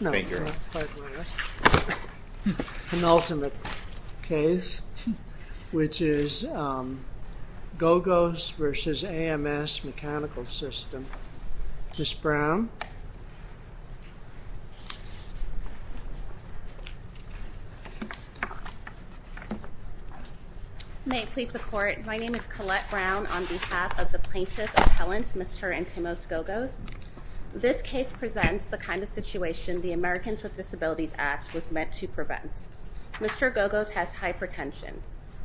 No, no, pardon us. Penultimate case, which is Gogos v. AMS-Mechanical System. Ms. Brown. May it please the Court. My name is Collette Brown on behalf of the plaintiff appellant, Mr. Antimos Gogos. This case presents the kind of situation the Americans with Disabilities Act was meant to prevent. Mr. Gogos has hypertension.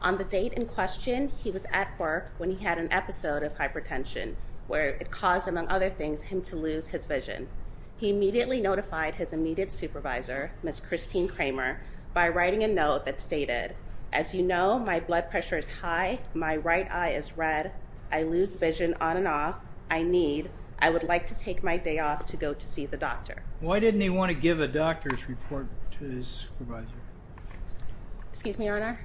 On the date in question, he was at work when he had an episode of hypertension, where it caused, among other things, him to lose his vision. He immediately notified his immediate supervisor, Ms. Christine Kramer, by writing a note that stated, as you know, my blood pressure is high, my right eye is red, I lose vision on and off, I need, I would like to take my day off to go to see the doctor. Why didn't he want to give a doctor's report to his supervisor? Excuse me, Your Honor?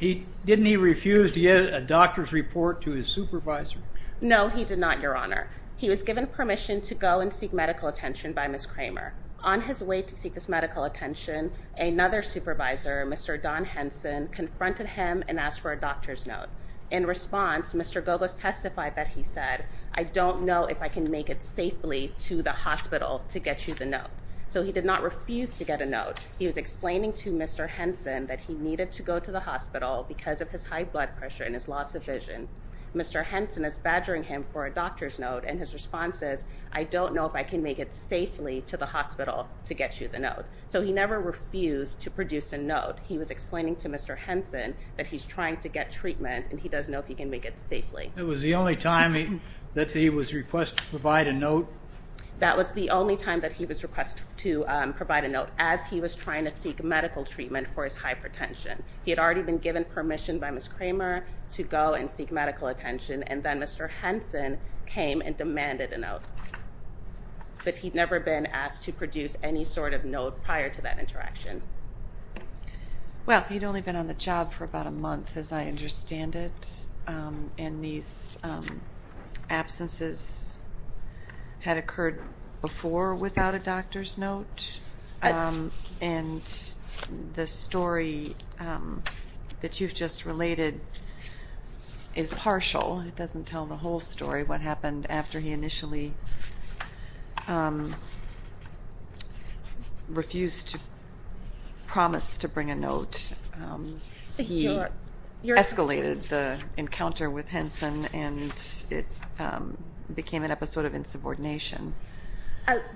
Didn't he refuse to give a doctor's report to his supervisor? No, he did not, Your Honor. He was given permission to go and seek medical attention by Ms. Kramer. On his way to seek his medical attention, another supervisor, Mr. Don Henson, confronted him and asked for a doctor's note. In response, Mr. Gogos testified that he said, I don't know if I can make it safely to the hospital to get you the note. So he did not refuse to get a note. He was explaining to Mr. Henson that he needed to go to the hospital because of his high blood pressure and his loss of vision. Mr. Henson is badgering him for a doctor's note, and his response is, I don't know if I can make it safely to the hospital to get you the note. So he never refused to produce a note. He was explaining to Mr. Henson that he's trying to get treatment, and he doesn't know if he can make it safely. That was the only time that he was requested to provide a note? That was the only time that he was requested to provide a note as he was trying to seek medical treatment for his hypertension. He had already been given permission by Ms. Kramer to go and seek medical attention, and then Mr. Henson came and demanded a note. But he'd never been asked to produce any sort of note prior to that interaction. Well, he'd only been on the job for about a month, as I understand it, and these absences had occurred before without a doctor's note, and the story that you've just related is partial. It doesn't tell the whole story what happened after he initially refused to promise to bring a note. He escalated the encounter with Henson, and it became an episode of insubordination.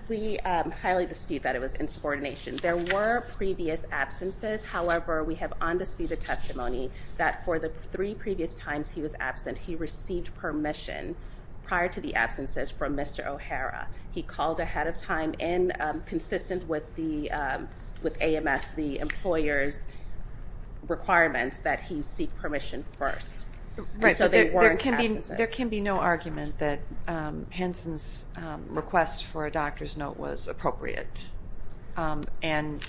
We highly dispute that it was insubordination. There were previous absences. However, we have undisputed testimony that for the three previous times he was absent, he received permission prior to the absences from Mr. O'Hara. He called ahead of time and consistent with AMS, the employer's requirements, that he seek permission first. Right, but there can be no argument that Henson's request for a doctor's note was appropriate, and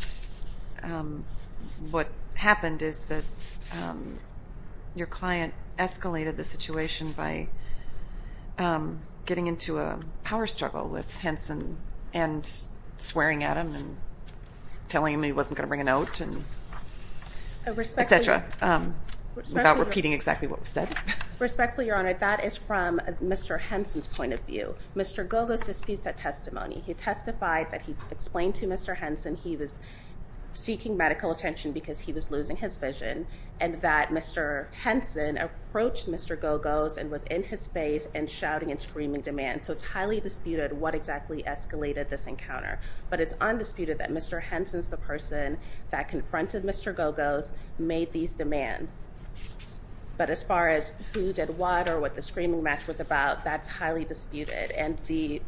what happened is that your client escalated the situation by getting into a power struggle with Henson and swearing at him and telling him he wasn't going to bring a note, et cetera, without repeating exactly what was said. Respectfully, Your Honor, that is from Mr. Henson's point of view. Mr. Gogos disputes that testimony. He testified that he explained to Mr. Henson he was seeking medical attention because he was losing his vision and that Mr. Henson approached Mr. Gogos and was in his face and shouting and screaming demands. So it's highly disputed what exactly escalated this encounter, but it's undisputed that Mr. Henson's the person that confronted Mr. Gogos, made these demands. But as far as who did what or what the screaming match was about, that's highly disputed, and the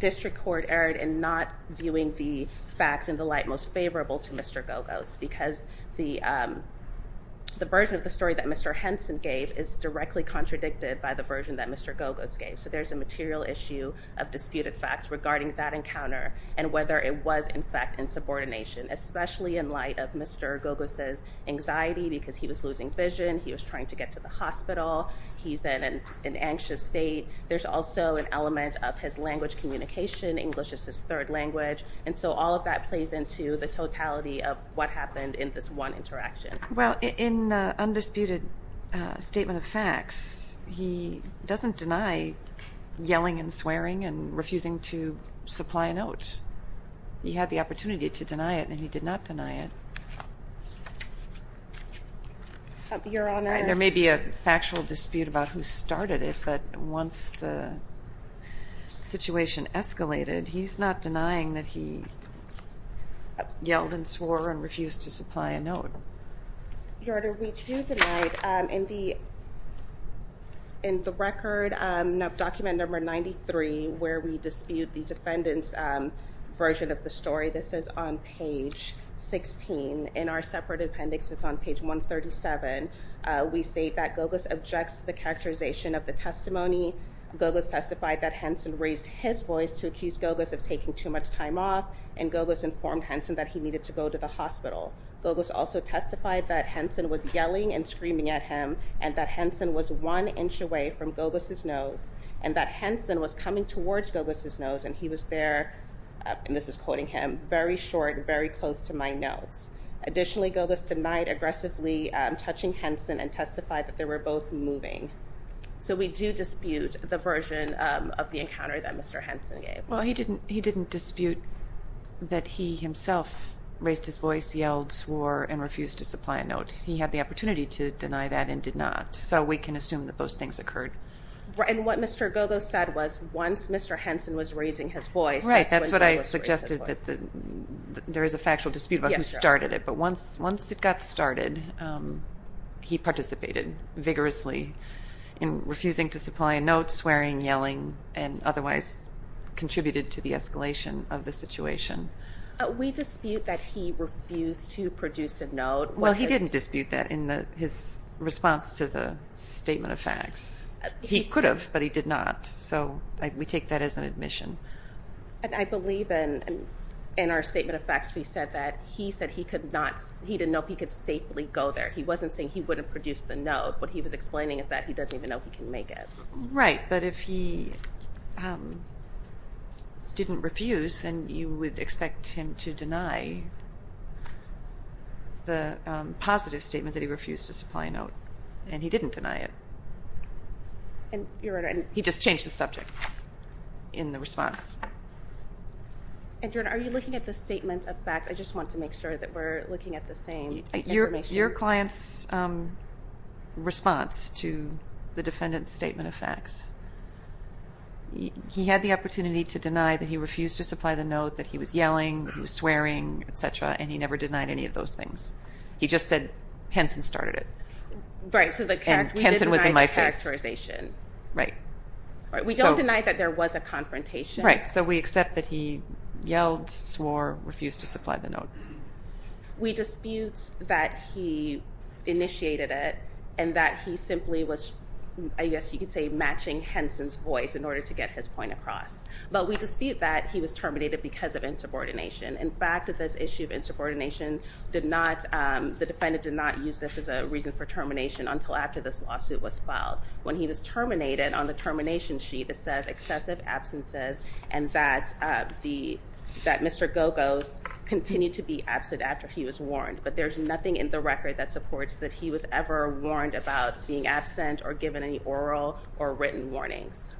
district court erred in not viewing the facts in the light most favorable to Mr. Gogos because the version of the story that Mr. Henson gave is directly contradicted by the version that Mr. Gogos gave. So there's a material issue of disputed facts regarding that encounter and whether it was, in fact, in subordination, especially in light of Mr. Gogos's anxiety because he was losing vision. He was trying to get to the hospital. He's in an anxious state. There's also an element of his language communication. English is his third language. And so all of that plays into the totality of what happened in this one interaction. Well, in the undisputed statement of facts, he doesn't deny yelling and swearing and refusing to supply a note. He had the opportunity to deny it, and he did not deny it. Your Honor. There may be a factual dispute about who started it, but once the situation escalated, he's not denying that he yelled and swore and refused to supply a note. Your Honor, we do tonight in the record document number 93, where we dispute the defendant's version of the story. This is on page 16. In our separate appendix, it's on page 137. We state that Gogos objects to the characterization of the testimony. Gogos testified that Henson raised his voice to accuse Gogos of taking too much time off, and Gogos informed Henson that he needed to go to the hospital. Gogos also testified that Henson was yelling and screaming at him and that Henson was one inch away from Gogos' nose and that Henson was coming towards Gogos' nose and he was there, and this is quoting him, very short and very close to my nose. Additionally, Gogos denied aggressively touching Henson and testified that they were both moving. So we do dispute the version of the encounter that Mr. Henson gave. Well, he didn't dispute that he himself raised his voice, yelled, swore, and refused to supply a note. He had the opportunity to deny that and did not, so we can assume that those things occurred. And what Mr. Gogos said was once Mr. Henson was raising his voice, that's when Gogos raised his voice. Right, that's what I suggested, that there is a factual dispute about who started it, but once it got started, he participated vigorously in refusing to supply a note, swearing, yelling, and otherwise contributed to the escalation of the situation. We dispute that he refused to produce a note. Well, he didn't dispute that in his response to the statement of facts. He could have, but he did not, so we take that as an admission. I believe in our statement of facts we said that he said he didn't know if he could safely go there. He wasn't saying he wouldn't produce the note. What he was explaining is that he doesn't even know if he can make it. Right, but if he didn't refuse, then you would expect him to deny the positive statement that he refused to supply a note, and he didn't deny it. He just changed the subject in the response. And, Your Honor, are you looking at the statement of facts? I just want to make sure that we're looking at the same information. With your client's response to the defendant's statement of facts, he had the opportunity to deny that he refused to supply the note, that he was yelling, that he was swearing, et cetera, and he never denied any of those things. He just said, Henson started it. Right, so we didn't deny the characterization. Right. We don't deny that there was a confrontation. Right, so we accept that he yelled, swore, refused to supply the note. We dispute that he initiated it and that he simply was, I guess you could say, matching Henson's voice in order to get his point across. But we dispute that he was terminated because of insubordination. In fact, this issue of insubordination did not, the defendant did not use this as a reason for termination until after this lawsuit was filed. When he was terminated on the termination sheet, it says excessive absences and that Mr. Gogos continued to be absent after he was warned. But there's nothing in the record that supports that he was ever warned about being absent or given any oral or written warnings.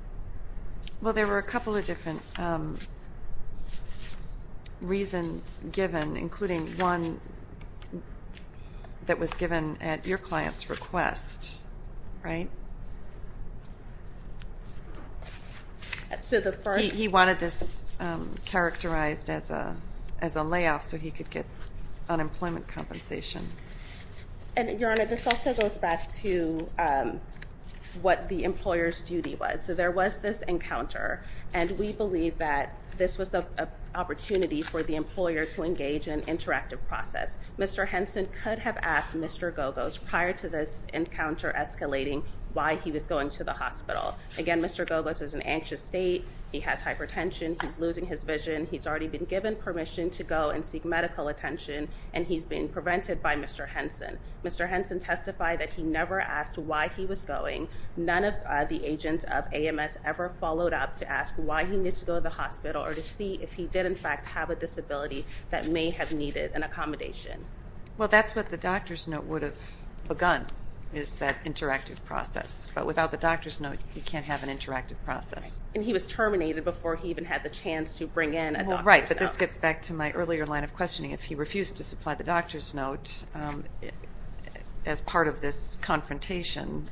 Well, there were a couple of different reasons given, including one that was given at your client's request, right? He wanted this characterized as a layoff so he could get unemployment compensation. And, Your Honor, this also goes back to what the employer's duty was. So there was this encounter, and we believe that this was the opportunity for the employer to engage in an interactive process. Mr. Henson could have asked Mr. Gogos prior to this encounter escalating why he was going to the hospital. Again, Mr. Gogos was in an anxious state. He has hypertension. He's losing his vision. He's already been given permission to go and seek medical attention, and he's been prevented by Mr. Henson. Mr. Henson testified that he never asked why he was going. None of the agents of AMS ever followed up to ask why he needs to go to the hospital or to see if he did, in fact, have a disability that may have needed an accommodation. Well, that's what the doctor's note would have begun, is that interactive process. But without the doctor's note, you can't have an interactive process. And he was terminated before he even had the chance to bring in a doctor's note. Right, but this gets back to my earlier line of questioning. If he refused to supply the doctor's note as part of this confrontation,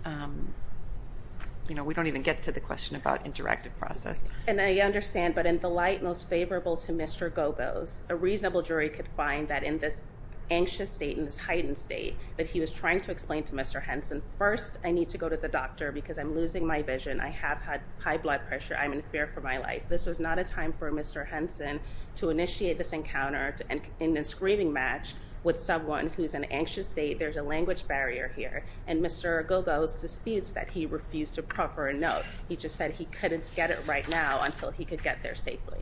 we don't even get to the question about interactive process. And I understand, but in the light most favorable to Mr. Gogos, a reasonable jury could find that in this anxious state, in this heightened state, that he was trying to explain to Mr. Henson, first I need to go to the doctor because I'm losing my vision. I have had high blood pressure. I'm in fear for my life. This was not a time for Mr. Henson to initiate this encounter in this grieving match with someone who's in an anxious state. There's a language barrier here. And Mr. Gogos disputes that he refused to proper a note. He just said he couldn't get it right now until he could get there safely.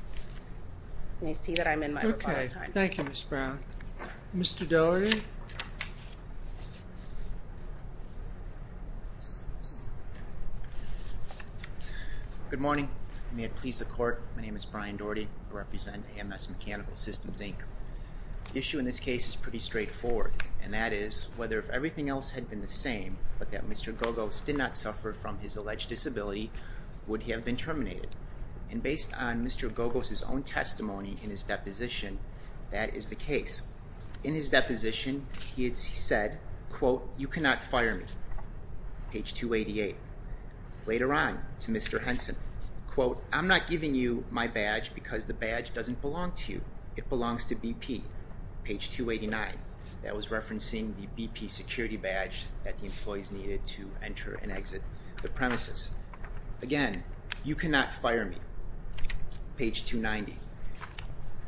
And I see that I'm in my rebuttal time. Okay, thank you, Ms. Brown. Mr. Doherty? Good morning. May it please the Court, my name is Brian Doherty. I represent AMS Mechanical Systems, Inc. The issue in this case is pretty straightforward, and that is whether if everything else had been the same but that Mr. Gogos did not suffer from his alleged disability, would he have been terminated? And based on Mr. Gogos' own testimony in his deposition, that is the case. In his deposition, he said, quote, Page 288. Later on, to Mr. Henson, quote, That was referencing the BP security badge that the employees needed to enter and exit the premises. Again, you cannot fire me. Page 290.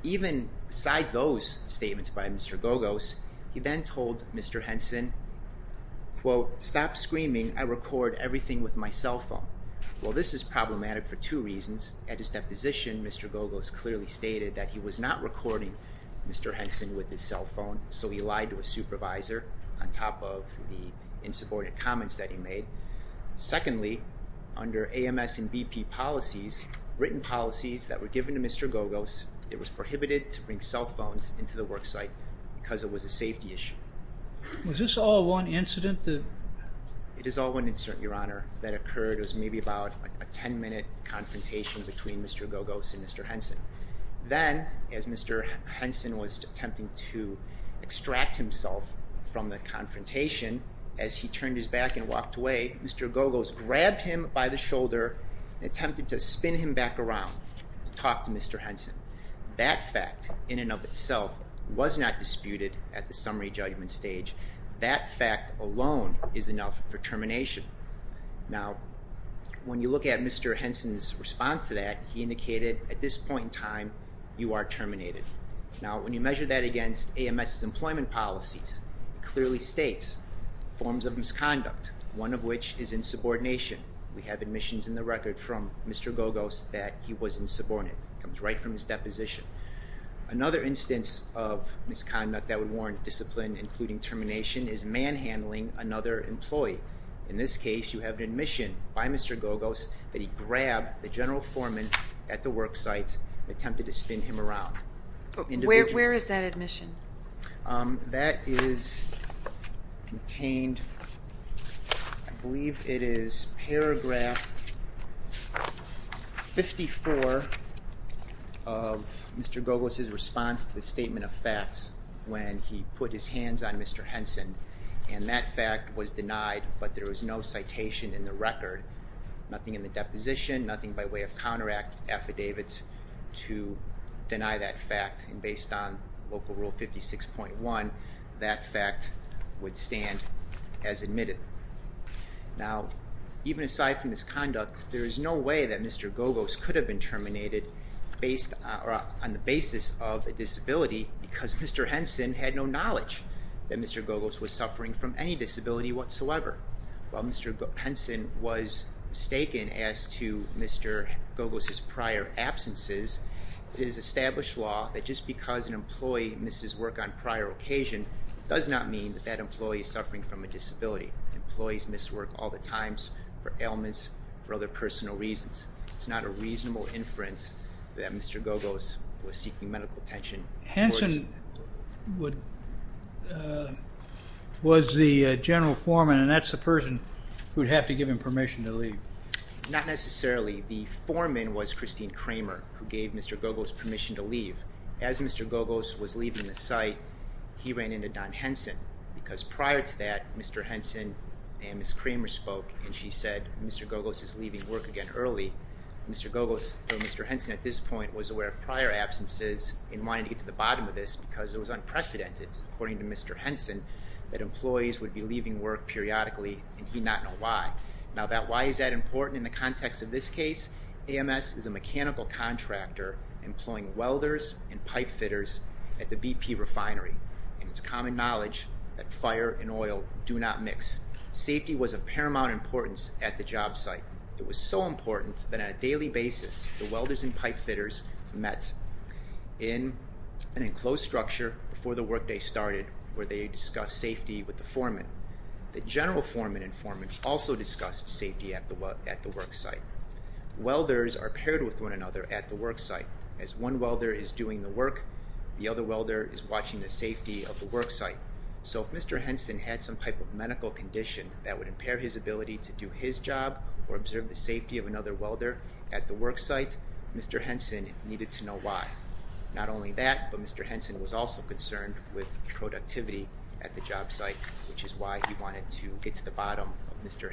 Even besides those statements by Mr. Gogos, he then told Mr. Henson, quote, Well, this is problematic for two reasons. At his deposition, Mr. Gogos clearly stated that he was not recording Mr. Henson with his cell phone, so he lied to his supervisor on top of the insubordinate comments that he made. Secondly, under AMS and BP policies, written policies that were given to Mr. Gogos, it was prohibited to bring cell phones into the work site because it was a safety issue. Was this all one incident that... It is all one incident, Your Honor, that occurred. It was maybe about a ten-minute confrontation between Mr. Gogos and Mr. Henson. Then, as Mr. Henson was attempting to extract himself from the confrontation, as he turned his back and walked away, Mr. Gogos grabbed him by the shoulder and attempted to spin him back around to talk to Mr. Henson. That fact, in and of itself, was not disputed at the summary judgment stage. That fact alone is enough for termination. Now, when you look at Mr. Henson's response to that, he indicated, at this point in time, you are terminated. Now, when you measure that against AMS's employment policies, it clearly states forms of misconduct, one of which is insubordination. We have admissions in the record from Mr. Gogos that he was insubordinate. It comes right from his deposition. Another instance of misconduct that would warrant discipline, including termination, is manhandling another employee. In this case, you have an admission by Mr. Gogos that he grabbed the general foreman at the work site and attempted to spin him around. Where is that admission? That is contained, I believe it is, paragraph 54 of Mr. Gogos' response to the statement of facts when he put his hands on Mr. Henson. And that fact was denied, but there was no citation in the record, nothing in the deposition, nothing by way of counter-affidavits to deny that fact. And based on Local Rule 56.1, that fact would stand as admitted. Now, even aside from misconduct, there is no way that Mr. Gogos could have been terminated on the basis of a disability because Mr. Henson had no knowledge that Mr. Gogos was suffering from any disability whatsoever. While Mr. Henson was mistaken as to Mr. Gogos' prior absences, it is established law that just because an employee misses work on prior occasion does not mean that that employee is suffering from a disability. Employees miss work all the time for ailments, for other personal reasons. It's not a reasonable inference that Mr. Gogos was seeking medical attention. Henson was the general foreman, and that's the person who would have to give him permission to leave. Not necessarily. The foreman was Christine Kramer, who gave Mr. Gogos permission to leave. As Mr. Gogos was leaving the site, he ran into Don Henson because prior to that, Mr. Henson and Ms. Kramer spoke, and she said, Mr. Gogos is leaving work again early. Mr. Gogos, or Mr. Henson at this point, was aware of prior absences and wanted to get to the bottom of this because it was unprecedented, according to Mr. Henson, that employees would be leaving work periodically, and he did not know why. Now, why is that important in the context of this case? AMS is a mechanical contractor employing welders and pipe fitters at the BP refinery, and it's common knowledge that fire and oil do not mix. Safety was of paramount importance at the job site. It was so important that on a daily basis, the welders and pipe fitters met in an enclosed structure before the workday started where they discussed safety with the foreman. The general foreman and foreman also discussed safety at the work site. Welders are paired with one another at the work site. As one welder is doing the work, the other welder is watching the safety of the work site. So if Mr. Henson had some type of medical condition that would impair his ability to do his job or observe the safety of another welder at the work site, Mr. Henson needed to know why. Not only that, but Mr. Henson was also concerned with productivity at the job site, which is why he wanted to get to the bottom of Mr.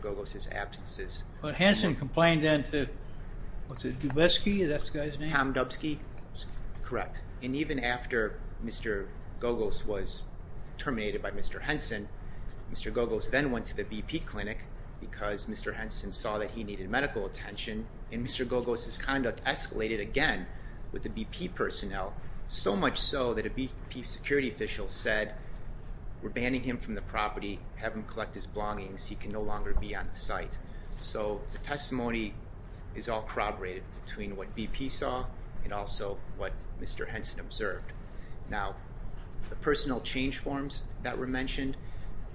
Gogos' absences. But Henson complained then to Dubeski? Is that the guy's name? Tom Dubeski. Correct. And even after Mr. Gogos was terminated by Mr. Henson, Mr. Gogos then went to the BP clinic because Mr. Henson saw that he needed medical attention, and Mr. Gogos' conduct escalated again with the BP personnel, so much so that a BP security official said, we're banning him from the property, have him collect his belongings, he can no longer be on the site. So the testimony is all corroborated between what BP saw and also what Mr. Henson observed. Now, the personnel change forms that were mentioned,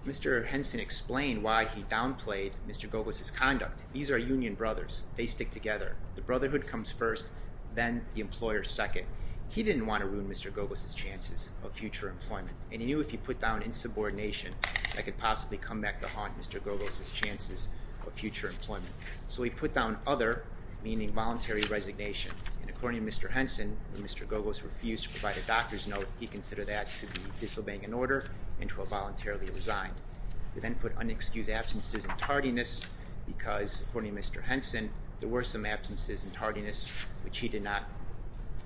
Mr. Henson explained why he downplayed Mr. Gogos' conduct. These are union brothers. They stick together. The brotherhood comes first, then the employer second. He didn't want to ruin Mr. Gogos' chances of future employment, and he knew if he put down insubordination, that could possibly come back to haunt Mr. Gogos' chances of future employment. So he put down other, meaning voluntary resignation, and according to Mr. Henson, when Mr. Gogos refused to provide a doctor's note, he considered that to be disobeying an order and to have voluntarily resigned. He then put unexcused absences and tardiness, because, according to Mr. Henson, there were some absences and tardiness, which he did not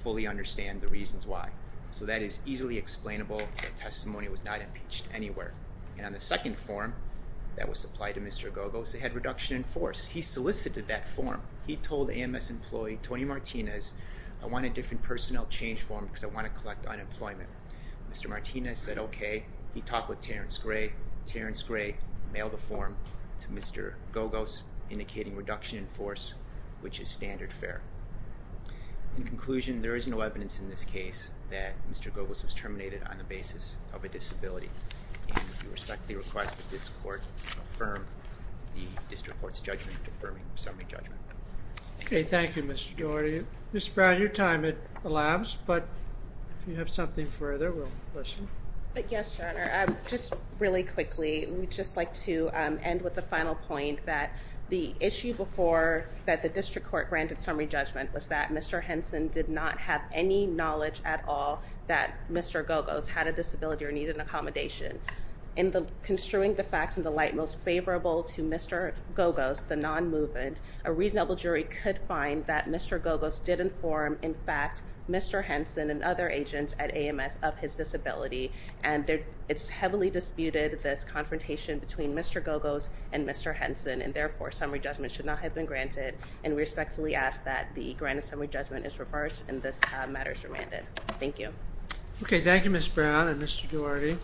fully understand the reasons why. So that is easily explainable. The testimony was not impeached anywhere. And on the second form that was supplied to Mr. Gogos, it had reduction in force. He solicited that form. He told AMS employee Tony Martinez, I want a different personnel change form because I want to collect unemployment. Mr. Martinez said okay. He talked with Terrence Gray. Terrence Gray mailed the form to Mr. Gogos, indicating reduction in force, which is standard fare. In conclusion, there is no evidence in this case that Mr. Gogos was terminated on the basis of a disability. And we respectfully request that this court affirm the district court's judgment, affirming summary judgment. Okay. Thank you, Mr. Gordy. Ms. Brown, your time has elapsed, but if you have something further, we'll listen. Yes, Your Honor. Just really quickly, we'd just like to end with the final point that the issue before that the district court granted summary judgment was that Mr. Henson did not have any knowledge at all that Mr. Gogos had a disability or needed an accommodation. In construing the facts in the light most favorable to Mr. Gogos, the non-movement, a reasonable jury could find that Mr. Gogos did inform, in fact, Mr. Henson and other agents at AMS of his disability. And it's heavily disputed this confrontation between Mr. Gogos and Mr. Henson, and therefore summary judgment should not have been granted. And we respectfully ask that the granted summary judgment is reversed and this matter is remanded. Thank you. Okay. Thank you, Ms. Brown and Mr. Gordy.